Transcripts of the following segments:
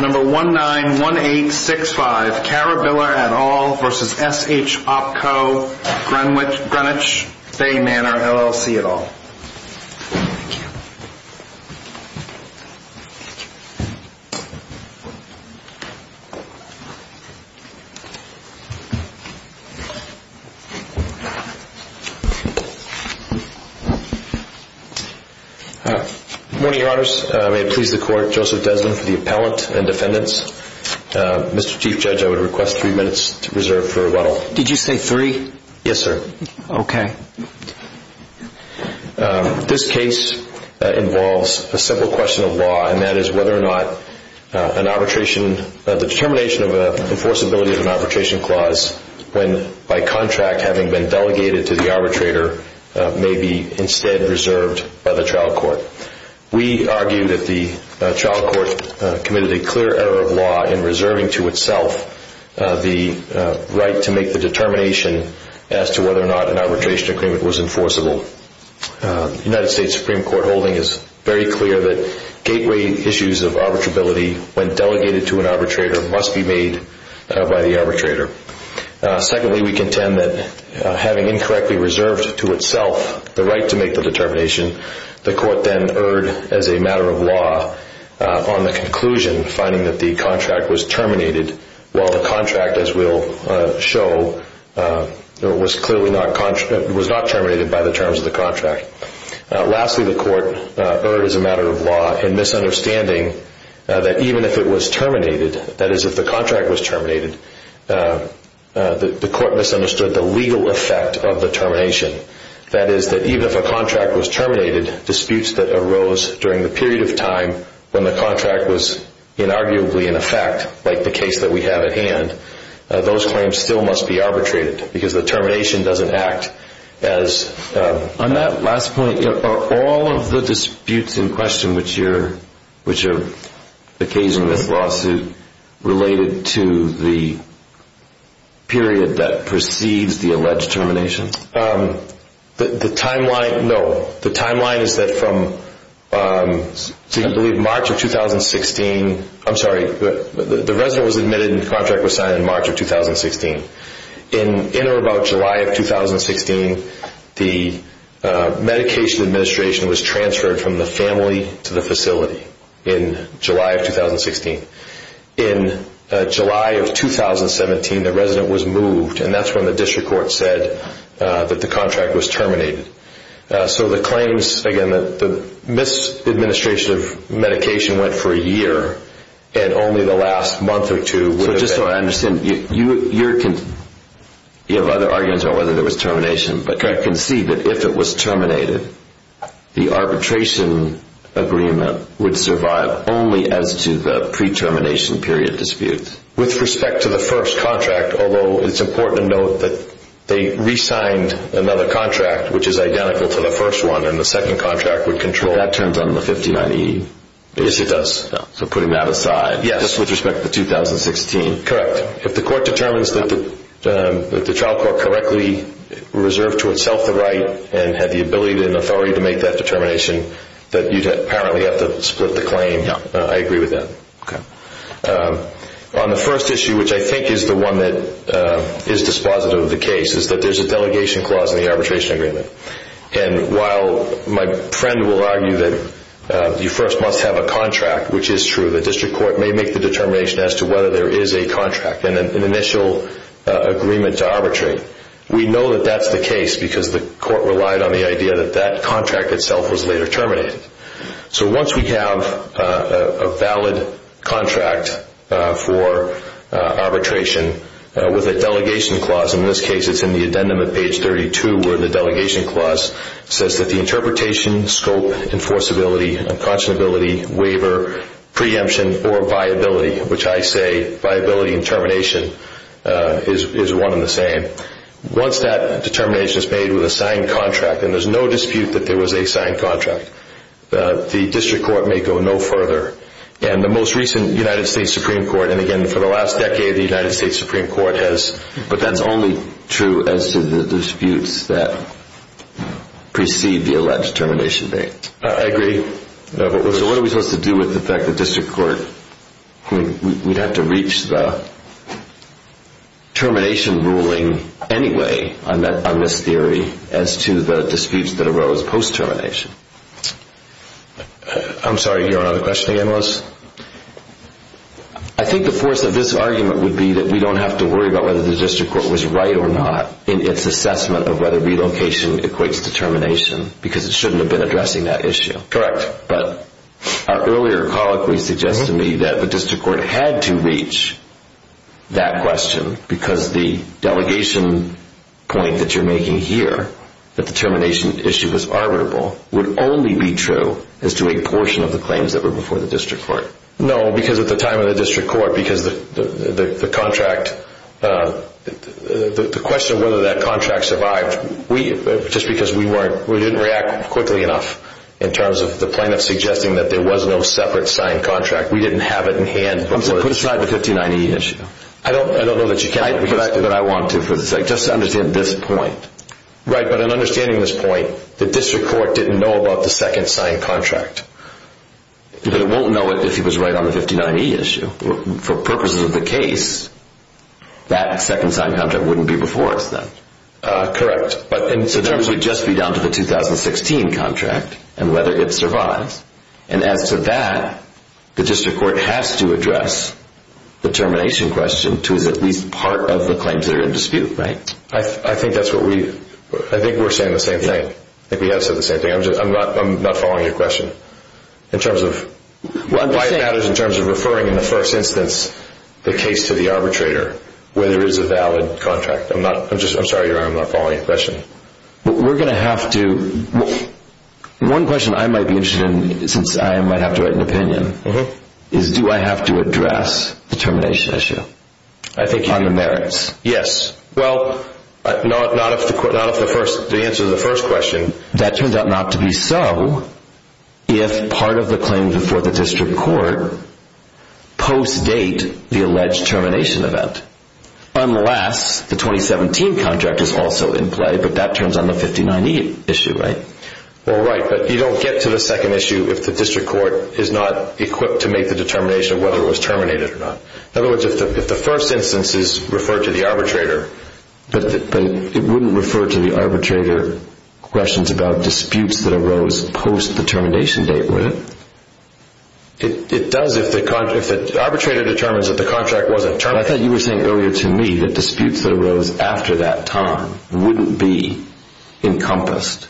Number 191865 Cara Biller et al. v. S-H OPCO Greenwich Bay Manor LLC et al. Good morning, Your Honors. May it please the Court, Joseph Deslin for the Appellant and Defendants. Mr. Chief Judge, I would request three minutes to reserve for Ruedel. Did you say three? Yes, sir. Okay. This case involves a simple question of law, and that is whether or not the determination of an enforceability of an arbitration clause, when by contract having been delegated to the arbitrator, may be instead reserved by the trial court. We argue that the trial court committed a clear error of law in reserving to itself the right to make the determination as to whether or not an arbitration agreement was enforceable. The United States Supreme Court holding is very clear that gateway issues of arbitrability, when delegated to an arbitrator, must be made by the arbitrator. Secondly, we contend that having incorrectly reserved to itself the right to make the determination, the court then erred as a matter of law on the conclusion finding that the contract was terminated, while the contract, as we'll show, was clearly not terminated by the terms of the contract. Lastly, the court erred as a matter of law in misunderstanding that even if it was terminated, that is if the contract was terminated, the court misunderstood the legal effect of the termination. That is that even if a contract was terminated, disputes that arose during the period of time when the contract was inarguably in effect, like the case that we have at hand, those claims still must be arbitrated, because the termination doesn't act as... On that last point, are all of the disputes in question which are occasioned with lawsuit related to the period that precedes the alleged termination? The timeline, no, the timeline is that from, I believe March of 2016, I'm sorry, the resident was admitted and the contract was signed in March of 2016. In or about July of 2016, the medication administration was transferred from the family to the facility in July of the contract was terminated. So the claims, again, the misadministration of medication went for a year, and only the last month or two... So just so I understand, you have other arguments on whether there was termination, but I can see that if it was terminated, the arbitration agreement would survive only as to the pre-termination period dispute. With respect to the first contract, although it's important to note that they re-signed another contract, which is identical to the first one, and the second contract would control... Well, that turns on the 59E. Yes, it does. So putting that aside, just with respect to 2016. Correct. If the court determines that the child court correctly reserved to itself the right and had the ability and authority to make that determination, that you'd apparently have to split the claim. I agree with that. Okay. On the first issue, which I think is the one that is dispositive of the case, is that there's a delegation clause in the arbitration agreement. And while my friend will argue that you first must have a contract, which is true, the district court may make the determination as to whether there is a contract and an initial agreement to arbitrate. We know that that's the case because the court relied on the idea that that contract itself was later terminated. So once we have a valid contract for arbitration with a delegation clause, in this case it's in the addendum at page 32 where the delegation clause says that the interpretation, scope, enforceability, unconscionability, waiver, preemption, or viability, which I say viability and termination is one and the same. Once that determination is made with a signed contract, and there's no dispute that there was a signed contract, the district court may go no further. And the most recent United States Supreme Court, and again for the last decade the United States Supreme Court has, but that's only true as to the disputes that precede the alleged termination date. I agree. So what are we supposed to do with the fact that the district court, we'd have to reach the termination ruling anyway on this theory as to the disputes that arose post-termination. I'm sorry, you have another question again, Lois? I think the force of this argument would be that we don't have to worry about whether the district court was right or not in its assessment of whether relocation equates to termination because it shouldn't have been addressing that issue. Correct. But our earlier colloquy suggests to me that the district court had to reach that question because the delegation point that you're making here that the termination issue was arbitrable would only be true as to a portion of the claims that were before the district court. No, because at the time of the district court, because the contract, the question of whether that contract survived, just because we weren't, we didn't react quickly enough in terms of the plaintiff suggesting that there was no separate signed contract. We didn't have it in hand. So put aside the 1590 issue. I don't know that you can, but I want to for the sake, just to understand this point. Right. But in understanding this point, the district court didn't know about the second signed contract. But it won't know it if he was right on the 1590 issue. For purposes of the case, that second signed contract wouldn't be before us then. Correct. But the terms would just be down to the 2016 contract and whether it survives. And as to that, the district court has to address the termination question to is at least part of the claims that are in dispute, right? I think that's what we, I think we're saying the same thing. I think we have said the same thing. I'm just, I'm not, I'm not following your question in terms of why it matters in terms of referring in the first instance, the case to the arbitrator where there is a valid contract. I'm not, I'm just, I'm sorry. I'm not following your question. We're going to have to, one question I might be interested in since I might have to write an opinion is, do I have to address the termination issue? I think on the merits? Yes. Well, not, not if the court, not if the first, the answer to the first question. That turns out not to be so if part of the claims before the district court post-date the alleged termination event, unless the 2017 contract is also in play, but that turns on the 59E issue, right? Well, right. But you don't get to the second issue if the district court is not equipped to make the determination of whether it was terminated or not. In other words, if the, if the first instance is referred to the arbitrator. But, but it wouldn't refer to the arbitrator questions about disputes that arose post the termination date, would it? It, it does if the, if the arbitrator determines that the contract wasn't terminated. I thought you were saying earlier to me that disputes that arose after that time wouldn't be encompassed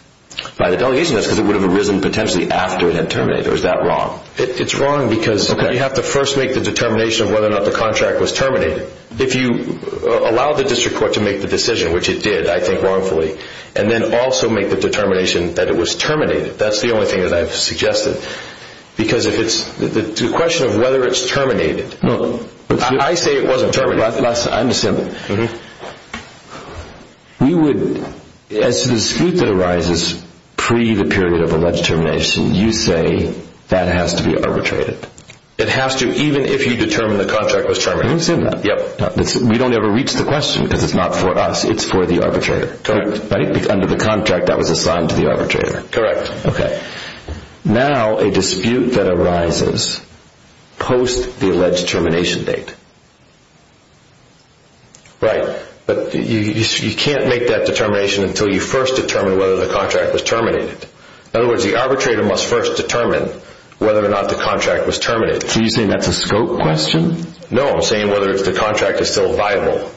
by the delegation notes because it would have arisen potentially after it had terminated. Is that wrong? It's wrong because you have to first make the determination of whether or not the contract was terminated. If you allow the district court to make the decision, which it did, I think wrongfully, and then also make the determination that it was terminated, that's the only thing that I've suggested because if it's, the question of whether it's terminated, I say it wasn't terminated. I understand. We would, as to the dispute that arises pre the period of alleged termination, you say that has to be arbitrated. It has to, even if you determine the contract was terminated. I understand that. Yep. We don't ever reach the question because it's not for us. It's for the arbitrator. Correct. Right? Under the contract that was assigned to the arbitrator. Correct. Okay. Now, a dispute that arises post the alleged termination date. Right, but you can't make that determination until you first determine whether the contract was terminated. In other words, the arbitrator must first determine whether or not the contract was terminated. So you're saying that's a scope question? No, I'm saying whether the contract is still viable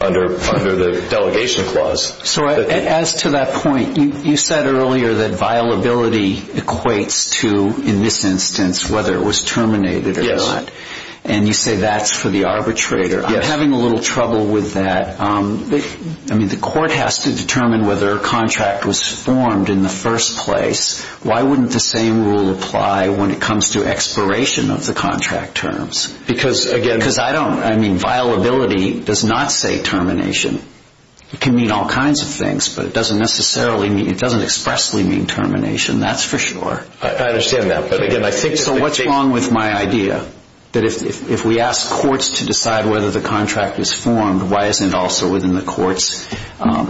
under the delegation clause. So, as to that point, you said earlier that viability equates to, in this instance, whether it was terminated or not, and you say that's for the arbitrator. Yes. I'm having a little trouble with that. The court has to determine whether a contract was formed in the first place. Why wouldn't the same rule apply when it comes to expiration of the contract terms? Because again- Because I don't, I mean, viability does not say termination. It can mean all kinds of things, but it doesn't necessarily mean, it doesn't expressly mean termination, that's for sure. I understand that, but again, I think- So what's wrong with my idea? That if we ask courts to decide whether the contract was formed, why isn't it also within the court's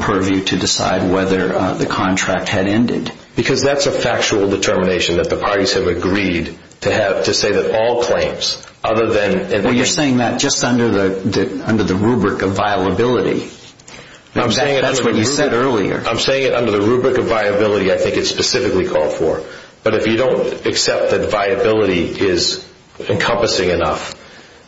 purview to decide whether the contract had ended? Because that's a factual determination that the parties have agreed to have, to say that all claims, other than- Well, you're saying that just under the rubric of viability. That's what you said earlier. I'm saying it under the rubric of viability I think it's specifically called for. But if you don't accept that viability is encompassing enough,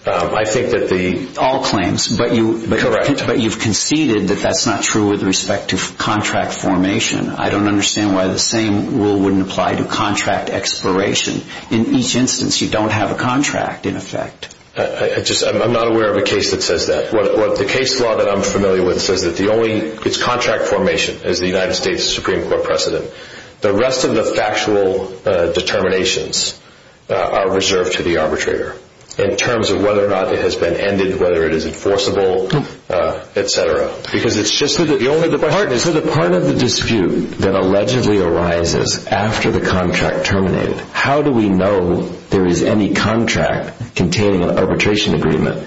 I think that the- All claims. Correct. But you've conceded that that's not true with respect to contract formation. I don't understand why the same rule wouldn't apply to contract expiration. In each instance, you don't have a contract in effect. I'm not aware of a case that says that. The case law that I'm familiar with says that the only, it's contract formation is the United States Supreme Court precedent. The rest of the factual determinations are reserved to the arbitrator in terms of whether or not it has been ended, whether it is enforceable, et cetera. Because it's just- So the part of the dispute that allegedly arises after the contract terminated, how do we know there is any contract containing an arbitration agreement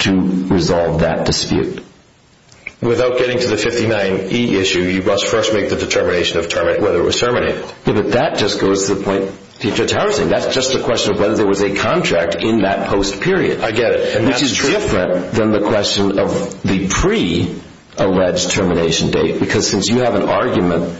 to resolve that dispute? Without getting to the 59E issue, you must first make the determination of whether it was terminated. Yeah, but that just goes to the point that you're touting. That's just a question of whether there was a contract in that post period. I get it. And that's true. Which is different than the question of the pre-alleged termination date. Because since you have an argument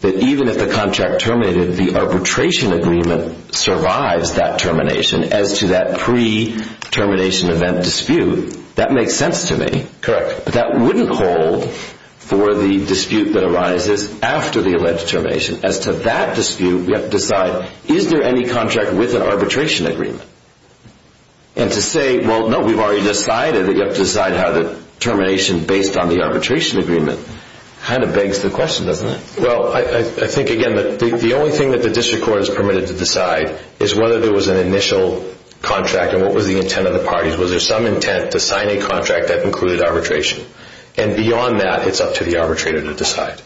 that even if the contract terminated, the arbitration agreement survives that termination as to that pre-termination event dispute, that makes sense to me. Correct. But that wouldn't hold for the dispute that arises after the alleged termination. As to that dispute, we have to decide, is there any contract with an arbitration agreement? And to say, well, no, we've already decided that you have to decide how the termination based on the arbitration agreement kind of begs the question, doesn't it? Well, I think, again, the only thing that the district court is permitted to decide is whether there was an initial contract and what was the intent of the parties. Was there some intent to sign a contract that included arbitration? And beyond that, it's up to the arbitrator to decide.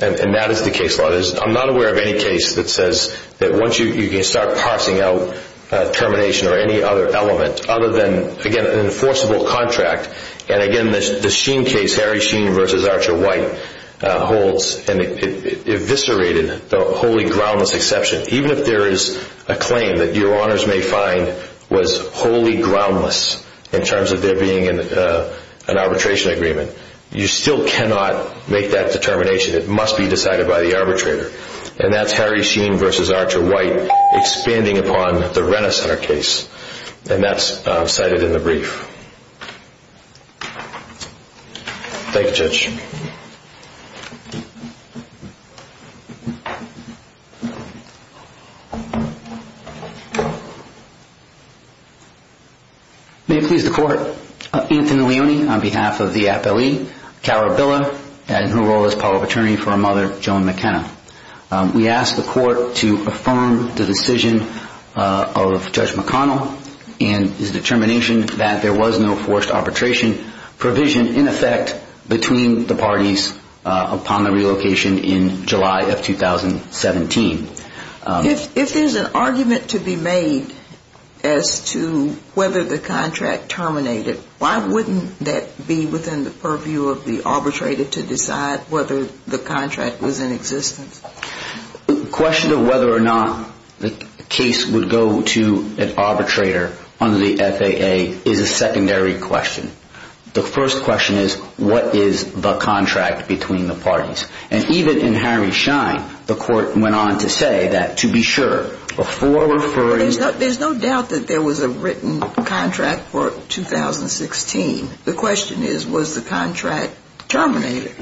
And that is the case law. I'm not aware of any case that says that once you can start parsing out termination or any other element, other than, again, an enforceable contract, and again, the Sheen case, Harry Sheen's case, and it eviscerated the wholly groundless exception, even if there is a claim that your honors may find was wholly groundless in terms of there being an arbitration agreement, you still cannot make that determination. It must be decided by the arbitrator. And that's Harry Sheen versus Archer White expanding upon the Renner Center case. And that's cited in the brief. Thank you, Judge. May it please the court, Anthony Leone on behalf of the appellee, Carol Billa, and her role as power of attorney for her mother, Joan McKenna. We ask the court to affirm the decision of Judge McConnell and his determination that there was no forced arbitration provision, in effect, between the parties upon the relocation in July of 2017. If there's an argument to be made as to whether the contract terminated, why wouldn't that be within the purview of the arbitrator to decide whether the contract was in existence? The question of whether or not the case would go to an arbitrator under the FAA is a secondary question. The first question is, what is the contract between the parties? And even in Harry Sheen, the court went on to say that, to be sure, before referring There's no doubt that there was a written contract for 2016. The question is, was the contract terminated?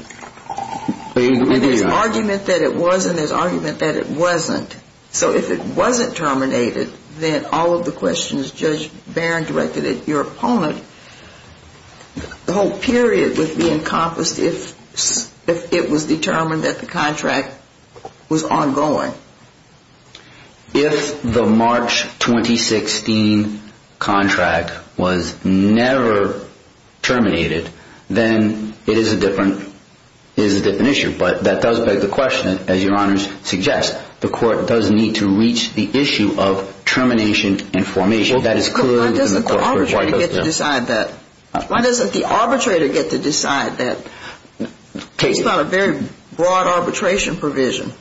And there's argument that it was and there's argument that it wasn't. So if it wasn't terminated, then all of the questions Judge Barron directed at your opponent, the whole period would be encompassed if it was determined that the contract was ongoing. If the March 2016 contract was never terminated, then it is a different issue. But that does beg the question, as your Honor suggests, the court does need to reach the issue of termination and formation. Why doesn't the arbitrator get to decide that? Why doesn't the arbitrator get to decide that? It's not a very broad arbitration provision.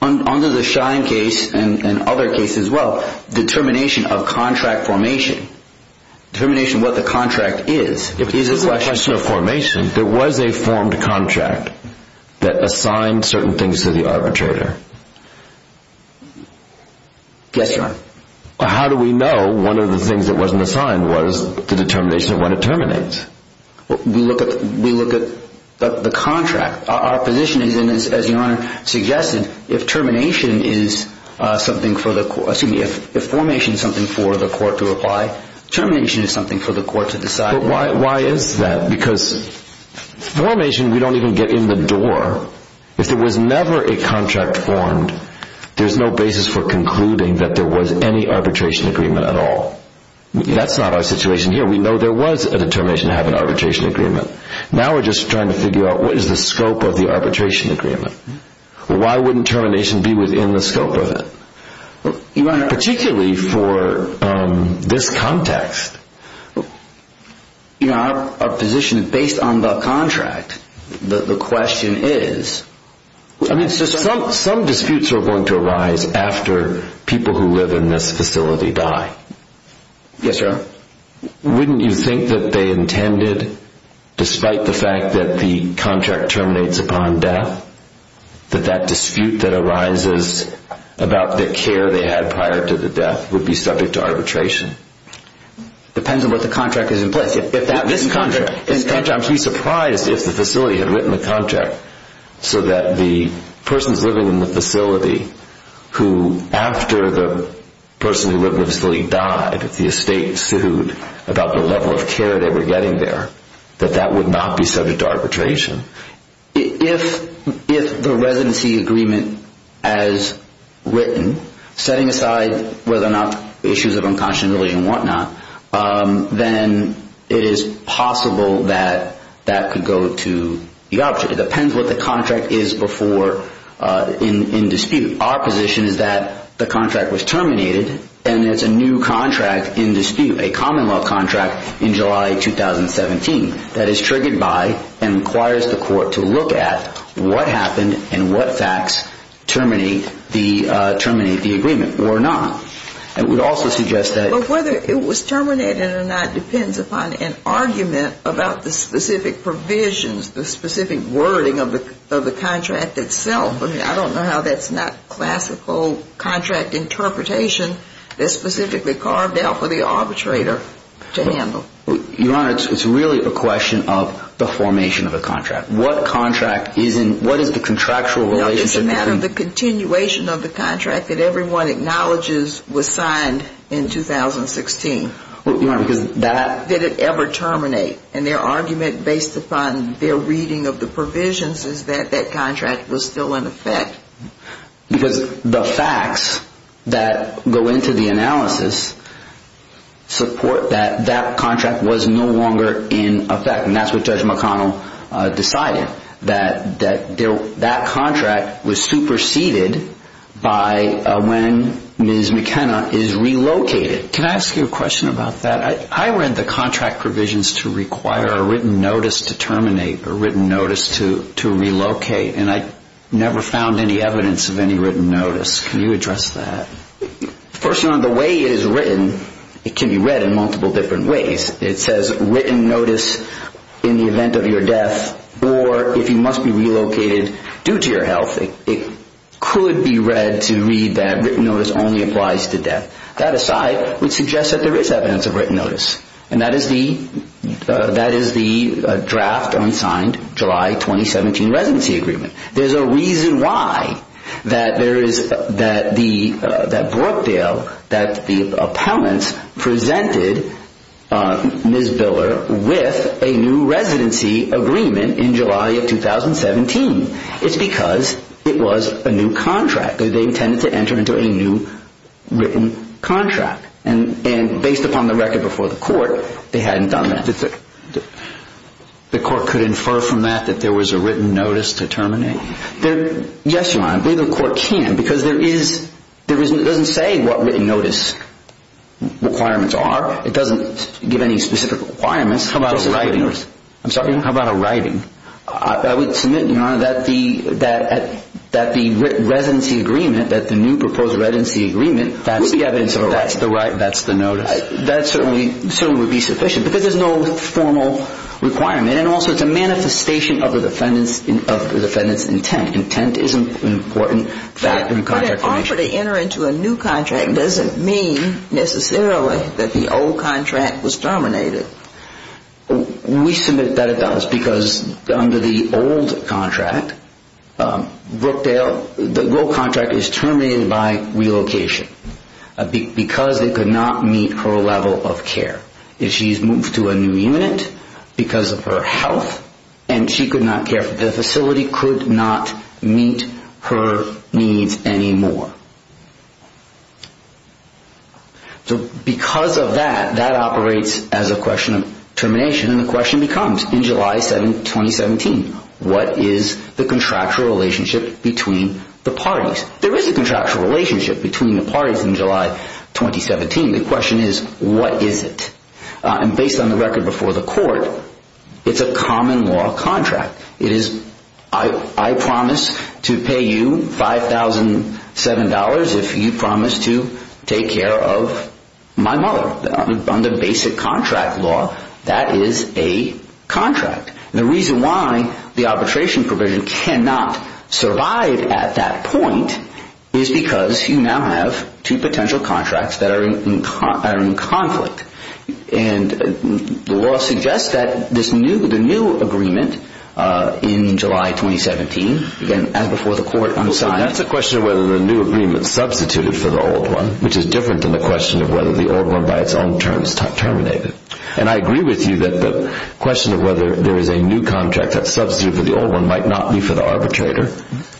Under the Shine case, and other cases as well, determination of contract formation, determination of what the contract is, is a question. If it's a question of formation, there was a formed contract that assigned certain things to the arbitrator. Yes, Your Honor. How do we know one of the things that wasn't assigned was the determination of when it terminates? We look at the contract. Our position is, as Your Honor suggested, if formation is something for the court to apply, termination is something for the court to decide. Why is that? Because formation, we don't even get in the door. If there was never a contract formed, there's no basis for concluding that there was any arbitration agreement at all. That's not our situation here. We know there was a determination to have an arbitration agreement. Now we're just trying to figure out what is the scope of the arbitration agreement. Why wouldn't termination be within the scope of it? Your Honor... Particularly for this context. Our position is based on the contract. The question is... Some disputes are going to arise after people who live in this facility die. Yes, Your Honor. Wouldn't you think that they intended, despite the fact that the contract terminates upon death, that that dispute that arises about the care they had prior to the death would be subject to arbitration? Depends on what the contract is in place. This contract... I'd be surprised if the facility had written the contract so that the persons living in about the level of care they were getting there. That that would not be subject to arbitration. If the residency agreement has written, setting aside whether or not issues of unconscionability and whatnot, then it is possible that that could go to the object. It depends what the contract is before... In dispute. Our position is that the contract was terminated and it's a new contract in dispute. A common law contract in July 2017 that is triggered by and requires the court to look at what happened and what facts terminate the agreement or not. I would also suggest that... Whether it was terminated or not depends upon an argument about the specific provisions, the specific wording of the contract itself. I don't know how that's not classical contract interpretation that's specifically carved out for the arbitrator to handle. Your Honor, it's really a question of the formation of a contract. What contract is in... What is the contractual relationship between... No, it's a matter of the continuation of the contract that everyone acknowledges was signed in 2016. Your Honor, because that... Did it ever terminate? And their argument based upon their reading of the provisions is that that contract was still in effect. Because the facts that go into the analysis support that that contract was no longer in effect. And that's what Judge McConnell decided. That that contract was superseded by when Ms. McKenna is relocated. Can I ask you a question about that? I read the contract provisions to require a written notice to terminate, a written notice to relocate, and I never found any evidence of any written notice. Can you address that? First, Your Honor, the way it is written, it can be read in multiple different ways. It says written notice in the event of your death or if you must be relocated due to your health. It could be read to read that written notice only applies to death. That aside, we suggest that there is evidence of written notice. And that is the draft unsigned July 2017 residency agreement. There's a reason why that Brookdale, that the appellants presented Ms. Biller with a new residency agreement in July of 2017. It's because it was a new contract. They intended to enter into a new written contract. And based upon the record before the court, they hadn't done that. The court could infer from that that there was a written notice to terminate? Yes, Your Honor. I believe the court can because there is, it doesn't say what written notice requirements are. It doesn't give any specific requirements. How about a writing notice? I'm sorry? How about a writing? I would submit, Your Honor, that the residency agreement, that the new proposed residency agreement, that's the right, that's the notice. That certainly would be sufficient because there's no formal requirement. And also it's a manifestation of the defendant's intent. Intent is an important factor in contract formation. But an offer to enter into a new contract doesn't mean necessarily that the old contract was terminated. We submit that it does because under the old contract, Brookdale, the old contract is terminated by relocation because it could not meet her level of care. If she's moved to a new unit because of her health and she could not care for the facility could not meet her needs anymore. So because of that, that operates as a question of termination and the question becomes in July 2017, what is the contractual relationship between the parties? There is a contractual relationship between the parties in July 2017. The question is, what is it? And based on the record before the court, it's a common law contract. It is, I promise to pay you $5,007 if you promise to take care of my mother. Under basic contract law, that is a contract. The reason why the arbitration provision cannot survive at that point is because you now have two potential contracts that are in conflict. And the law suggests that the new agreement in July 2017, again, before the court. That's a question of whether the new agreement substituted for the old one, which is different than the question of whether the old one by its own terms terminated. And I agree with you that the question of whether there is a new contract that's substituted for the old one might not be for the arbitrator.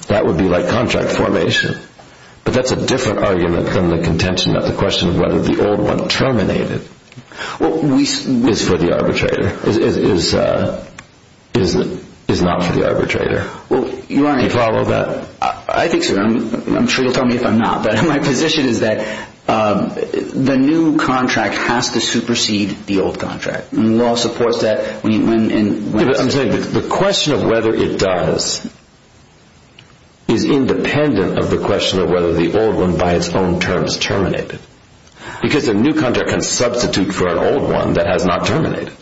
That would be like contract formation. But that's a different argument than the contention of the question of whether the old one terminated is for the arbitrator, is not for the arbitrator. Do you follow that? I think so. I'm sure you'll tell me if I'm not. My position is that the new contract has to supersede the old contract. The law supports that. I'm saying the question of whether it does is independent of the question of whether the old one by its own terms terminated. Because the new contract can substitute for an old one that has not terminated.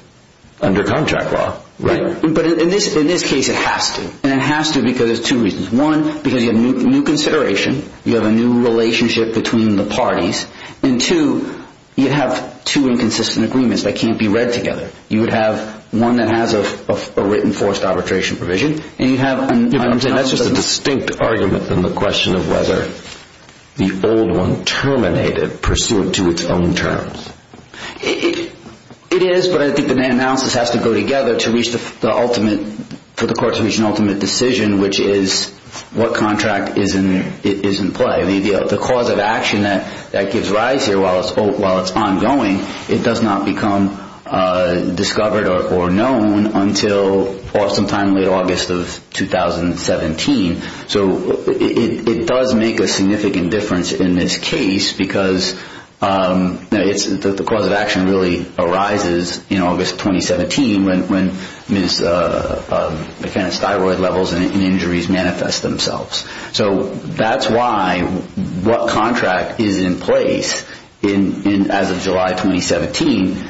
Under contract law. But in this case, it has to. And it has to because of two reasons. One, because you have new consideration. You have a new relationship between the parties. And two, you have two inconsistent agreements that can't be read together. You would have one that has a written forced arbitration provision. And you have an... I'm saying that's just a distinct argument than the question of whether the old one terminated pursuant to its own terms. It is, but I think the analysis has to go together to reach the ultimate, for the courts to reach an ultimate decision, which is what contract is in play. The cause of action that gives rise here while it's ongoing, it does not become discovered or known until sometime in late August of 2017. So it does make a significant difference in this case because the cause of action really arises in August 2017 when mechanosteroid levels and injuries manifest themselves. So that's why what contract is in place as of July 2017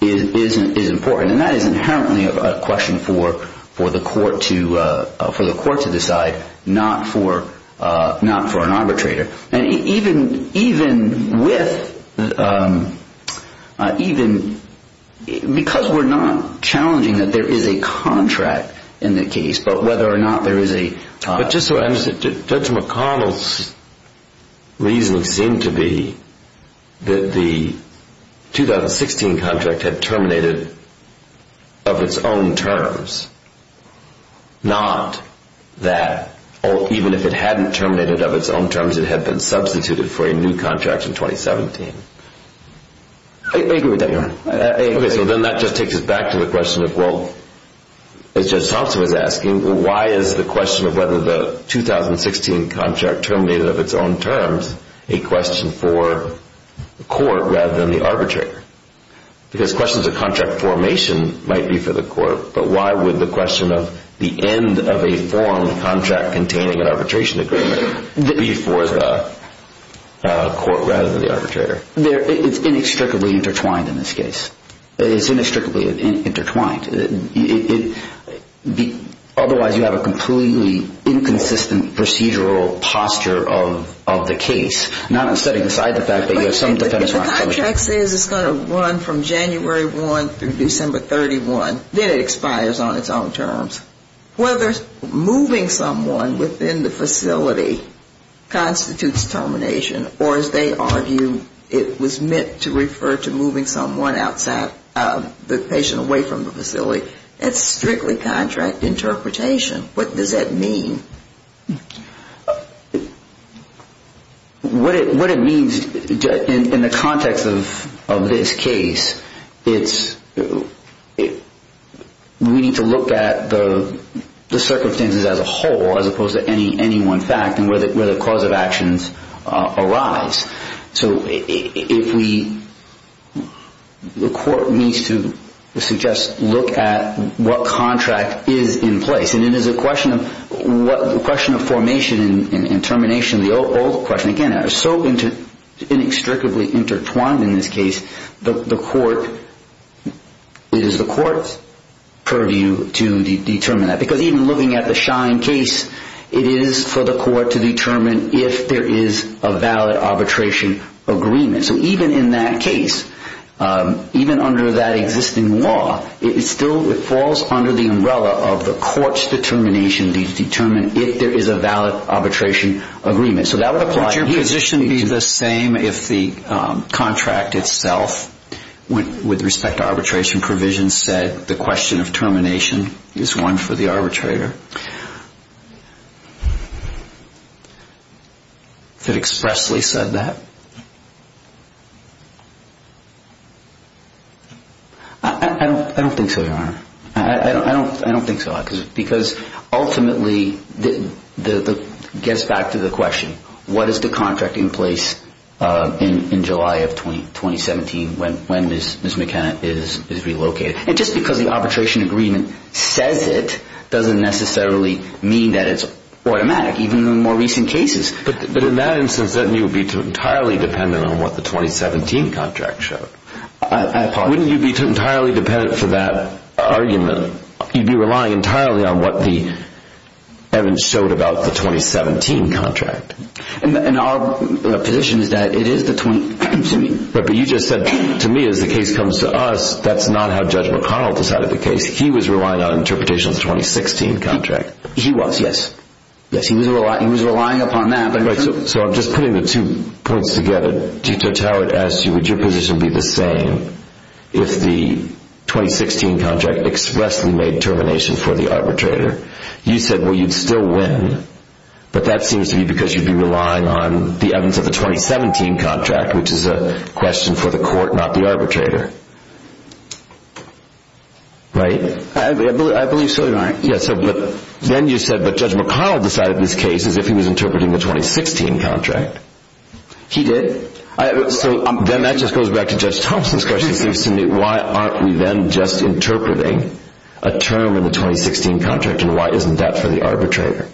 is important. And that is inherently a question for the court to decide, not for an arbitrator. And even with... Even... Because we're not challenging that there is a contract in the case, but whether or not there is a... But just so I understand, Judge McConnell's reason seemed to be that the 2016 contract had terminated of its own terms. Not that... It had been substituted for a new contract in 2017. I agree with that, Your Honor. I agree. Okay, so then that just takes us back to the question of, well, as Judge Thompson was asking, why is the question of whether the 2016 contract terminated of its own terms a question for the court rather than the arbitrator? Because questions of contract formation might be for the court, but why would the question of the end of a formed contract containing an arbitration agreement be for the court rather than the arbitrator? It's inextricably intertwined in this case. It's inextricably intertwined. Otherwise, you have a completely inconsistent procedural posture of the case, not on the side of the fact that you have some defendants... If the contract says it's going to run from January 1 through December 31, then it expires on its own terms. Whether moving someone within the facility constitutes termination or, as they argue, it was meant to refer to moving someone outside, the patient away from the facility, it's strictly contract interpretation. What does that mean? What it means in the context of this case, it's... We need to look at the circumstances as a whole as opposed to any one fact and where the cause of actions arise. So if we... The court needs to suggest, look at what contract is in place. And it is a question of formation and termination of the old question. Again, it's so inextricably intertwined in this case, the court... It is the court's purview to determine that. Because even looking at the Shine case, it is for the court to determine if there is a valid arbitration agreement. So even in that case, even under that existing law, it still falls under the umbrella of the court's determination to determine if there is a valid arbitration agreement. Wouldn't your position be the same if the contract itself, with respect to arbitration provisions, said the question of termination is one for the arbitrator? If it expressly said that? I don't think so, Your Honor. I don't think so. Because ultimately, it gets back to the question. What is the contract in place in July of 2017 when Ms. McKenna is relocated? And just because the arbitration agreement says it doesn't necessarily mean that it's automatic, even in more recent cases. But in that instance, then you would be entirely dependent on what the 2017 contract showed. I apologize. Wouldn't you be entirely dependent for that argument? You'd be relying entirely on what the evidence showed about the 2017 contract. And our position is that it is the 2017. But you just said to me, as the case comes to us, that's not how Judge McConnell decided the case. He was relying on interpretation of the 2016 contract. He was, yes. Yes, he was relying upon that. So I'm just putting the two points together. Judge Howard asks you, would your position be the same if the 2016 contract expressly made termination for the arbitrator? You said, well, you'd still win. But that seems to be because you'd be relying on the evidence of the 2017 contract, which is a question for the court, not the arbitrator. Right? I believe so, Your Honor. Then you said, but Judge McConnell decided this case as if he was interpreting the 2016 contract. He did. So then that just goes back to Judge Thompson's question. Why aren't we then just interpreting a term in the 2016 contract? And why isn't that for the arbitrator?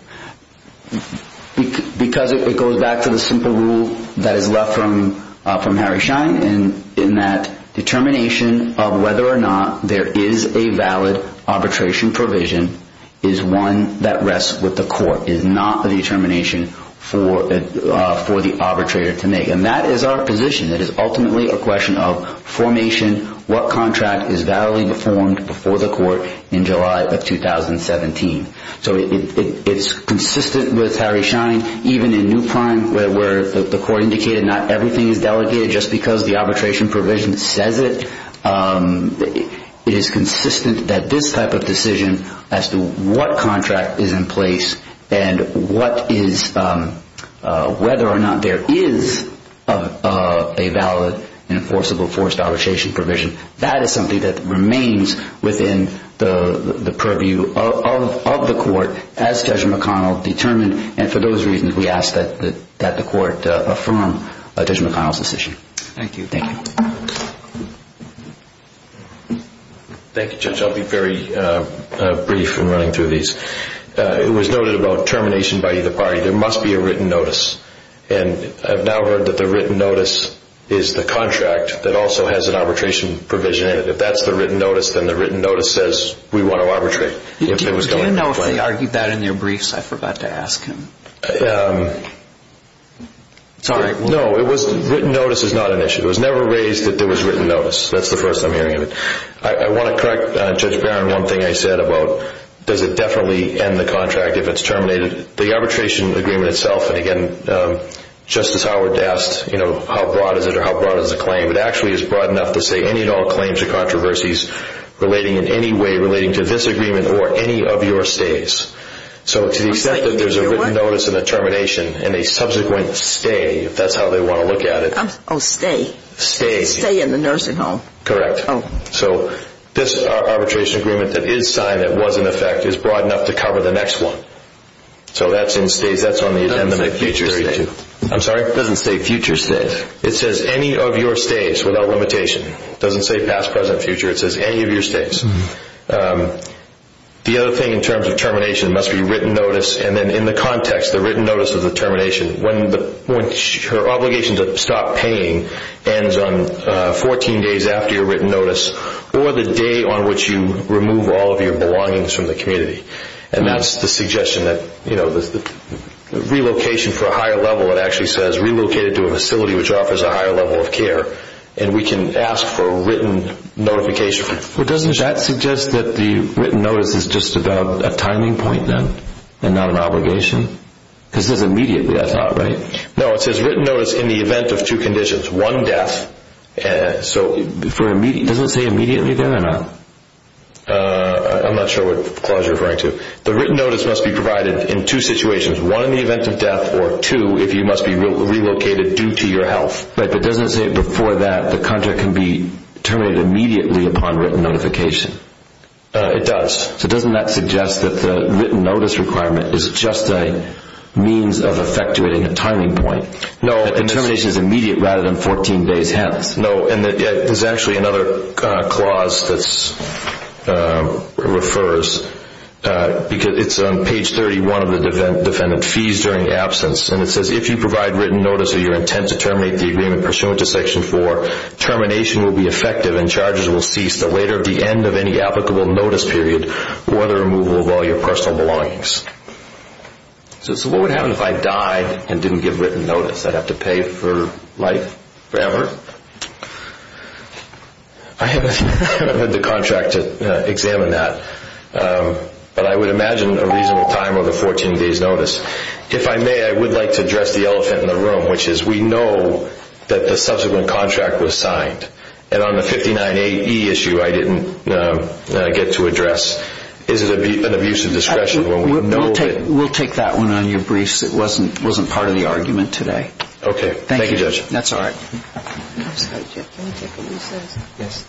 Because it goes back to the simple rule that is left from Harry Schein, in that determination of whether or not there is a valid arbitration provision is one that rests with the court. It is not a determination for the arbitrator to make. And that is our position. It is ultimately a question of formation. What contract is validly performed before the court in July of 2017? So it's consistent with Harry Schein, even in New Prime, where the court indicated not everything is delegated just because the arbitration provision says it. It is consistent that this type of decision as to what contract is in place and whether or not there is a valid enforceable forced arbitration provision, that is something that remains within the purview of the court as Judge McConnell determined. And for those reasons, we ask that the court affirm Judge McConnell's decision. Thank you. Thank you, Judge. I'll be very brief in running through these. It was noted about termination by either party. There must be a written notice. And I've now heard that the written notice is the contract that also has an arbitration provision in it. If that's the written notice, then the written notice says we want to arbitrate. Do you know if they argued that in their briefs? I forgot to ask him. No, written notice is not an issue. It was never raised that there was written notice. That's the first I'm hearing of it. I want to correct Judge Barron one thing I said about does it definitely end the contract if it's terminated. The arbitration agreement itself, and again, Justice Howard asked, you know, how broad is it or how broad is the claim? It actually is broad enough to say any and all claims or controversies relating in any way relating to this agreement or any of your stays. So to the extent that there's a written notice and a termination and a subsequent stay, if that's how they want to look at it. Oh, stay. Stay. Stay in the nursing home. Correct. So this arbitration agreement that is signed that was in effect is broad enough to cover the next one. So that's in stays. That's on the agenda. It doesn't say future stays. I'm sorry? It doesn't say future stays. It says any of your stays without limitation. It doesn't say past, present, future. It says any of your stays. The other thing in terms of termination must be written notice and then in the context the written notice of the termination. When her obligation to stop paying ends on 14 days after your written notice or the day on which you remove all of your belongings from the community. And that's the suggestion that the relocation for a higher level it actually says relocated to a facility which offers a higher level of care. And we can ask for a written notification. Well, doesn't that suggest that the written notice is just about a timing point then and not an obligation? Because it says immediately, I thought, right? No, it says written notice in the event of two conditions. One, death. Doesn't it say immediately there or not? I'm not sure what clause you're referring to. The written notice must be provided in two situations. One, in the event of death or two, if you must be relocated due to your health. But doesn't it say before that the contract can be terminated immediately upon written notification? It does. So doesn't that suggest that the written notice requirement is just a means of effectuating a timing point? No, the termination is immediate rather than 14 days hence. No, and there's actually another clause that refers. It's on page 31 of the defendant fees during absence. And it says, if you provide written notice of your intent to terminate the agreement pursuant to Section 4, termination will be effective and charges will cease the later of the end of any applicable notice period or the removal of all your personal belongings. So what would happen if I died and didn't give written notice? I'd have to pay for life forever? I haven't had the contract to examine that. But I would imagine a reasonable time of a 14 days notice. If I may, I would like to address the elephant in the room which is we know that the subsequent contract was signed. And on the 59AE issue I didn't get to address. Is it an abuse of discretion when we know that... We'll take that one on your briefs. It wasn't part of the argument today. Okay. Thank you, Judge. That's all right. Can we take a recess? Yes.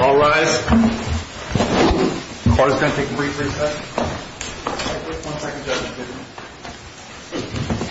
All rise. Court is going to take a brief recess. One second, Judge.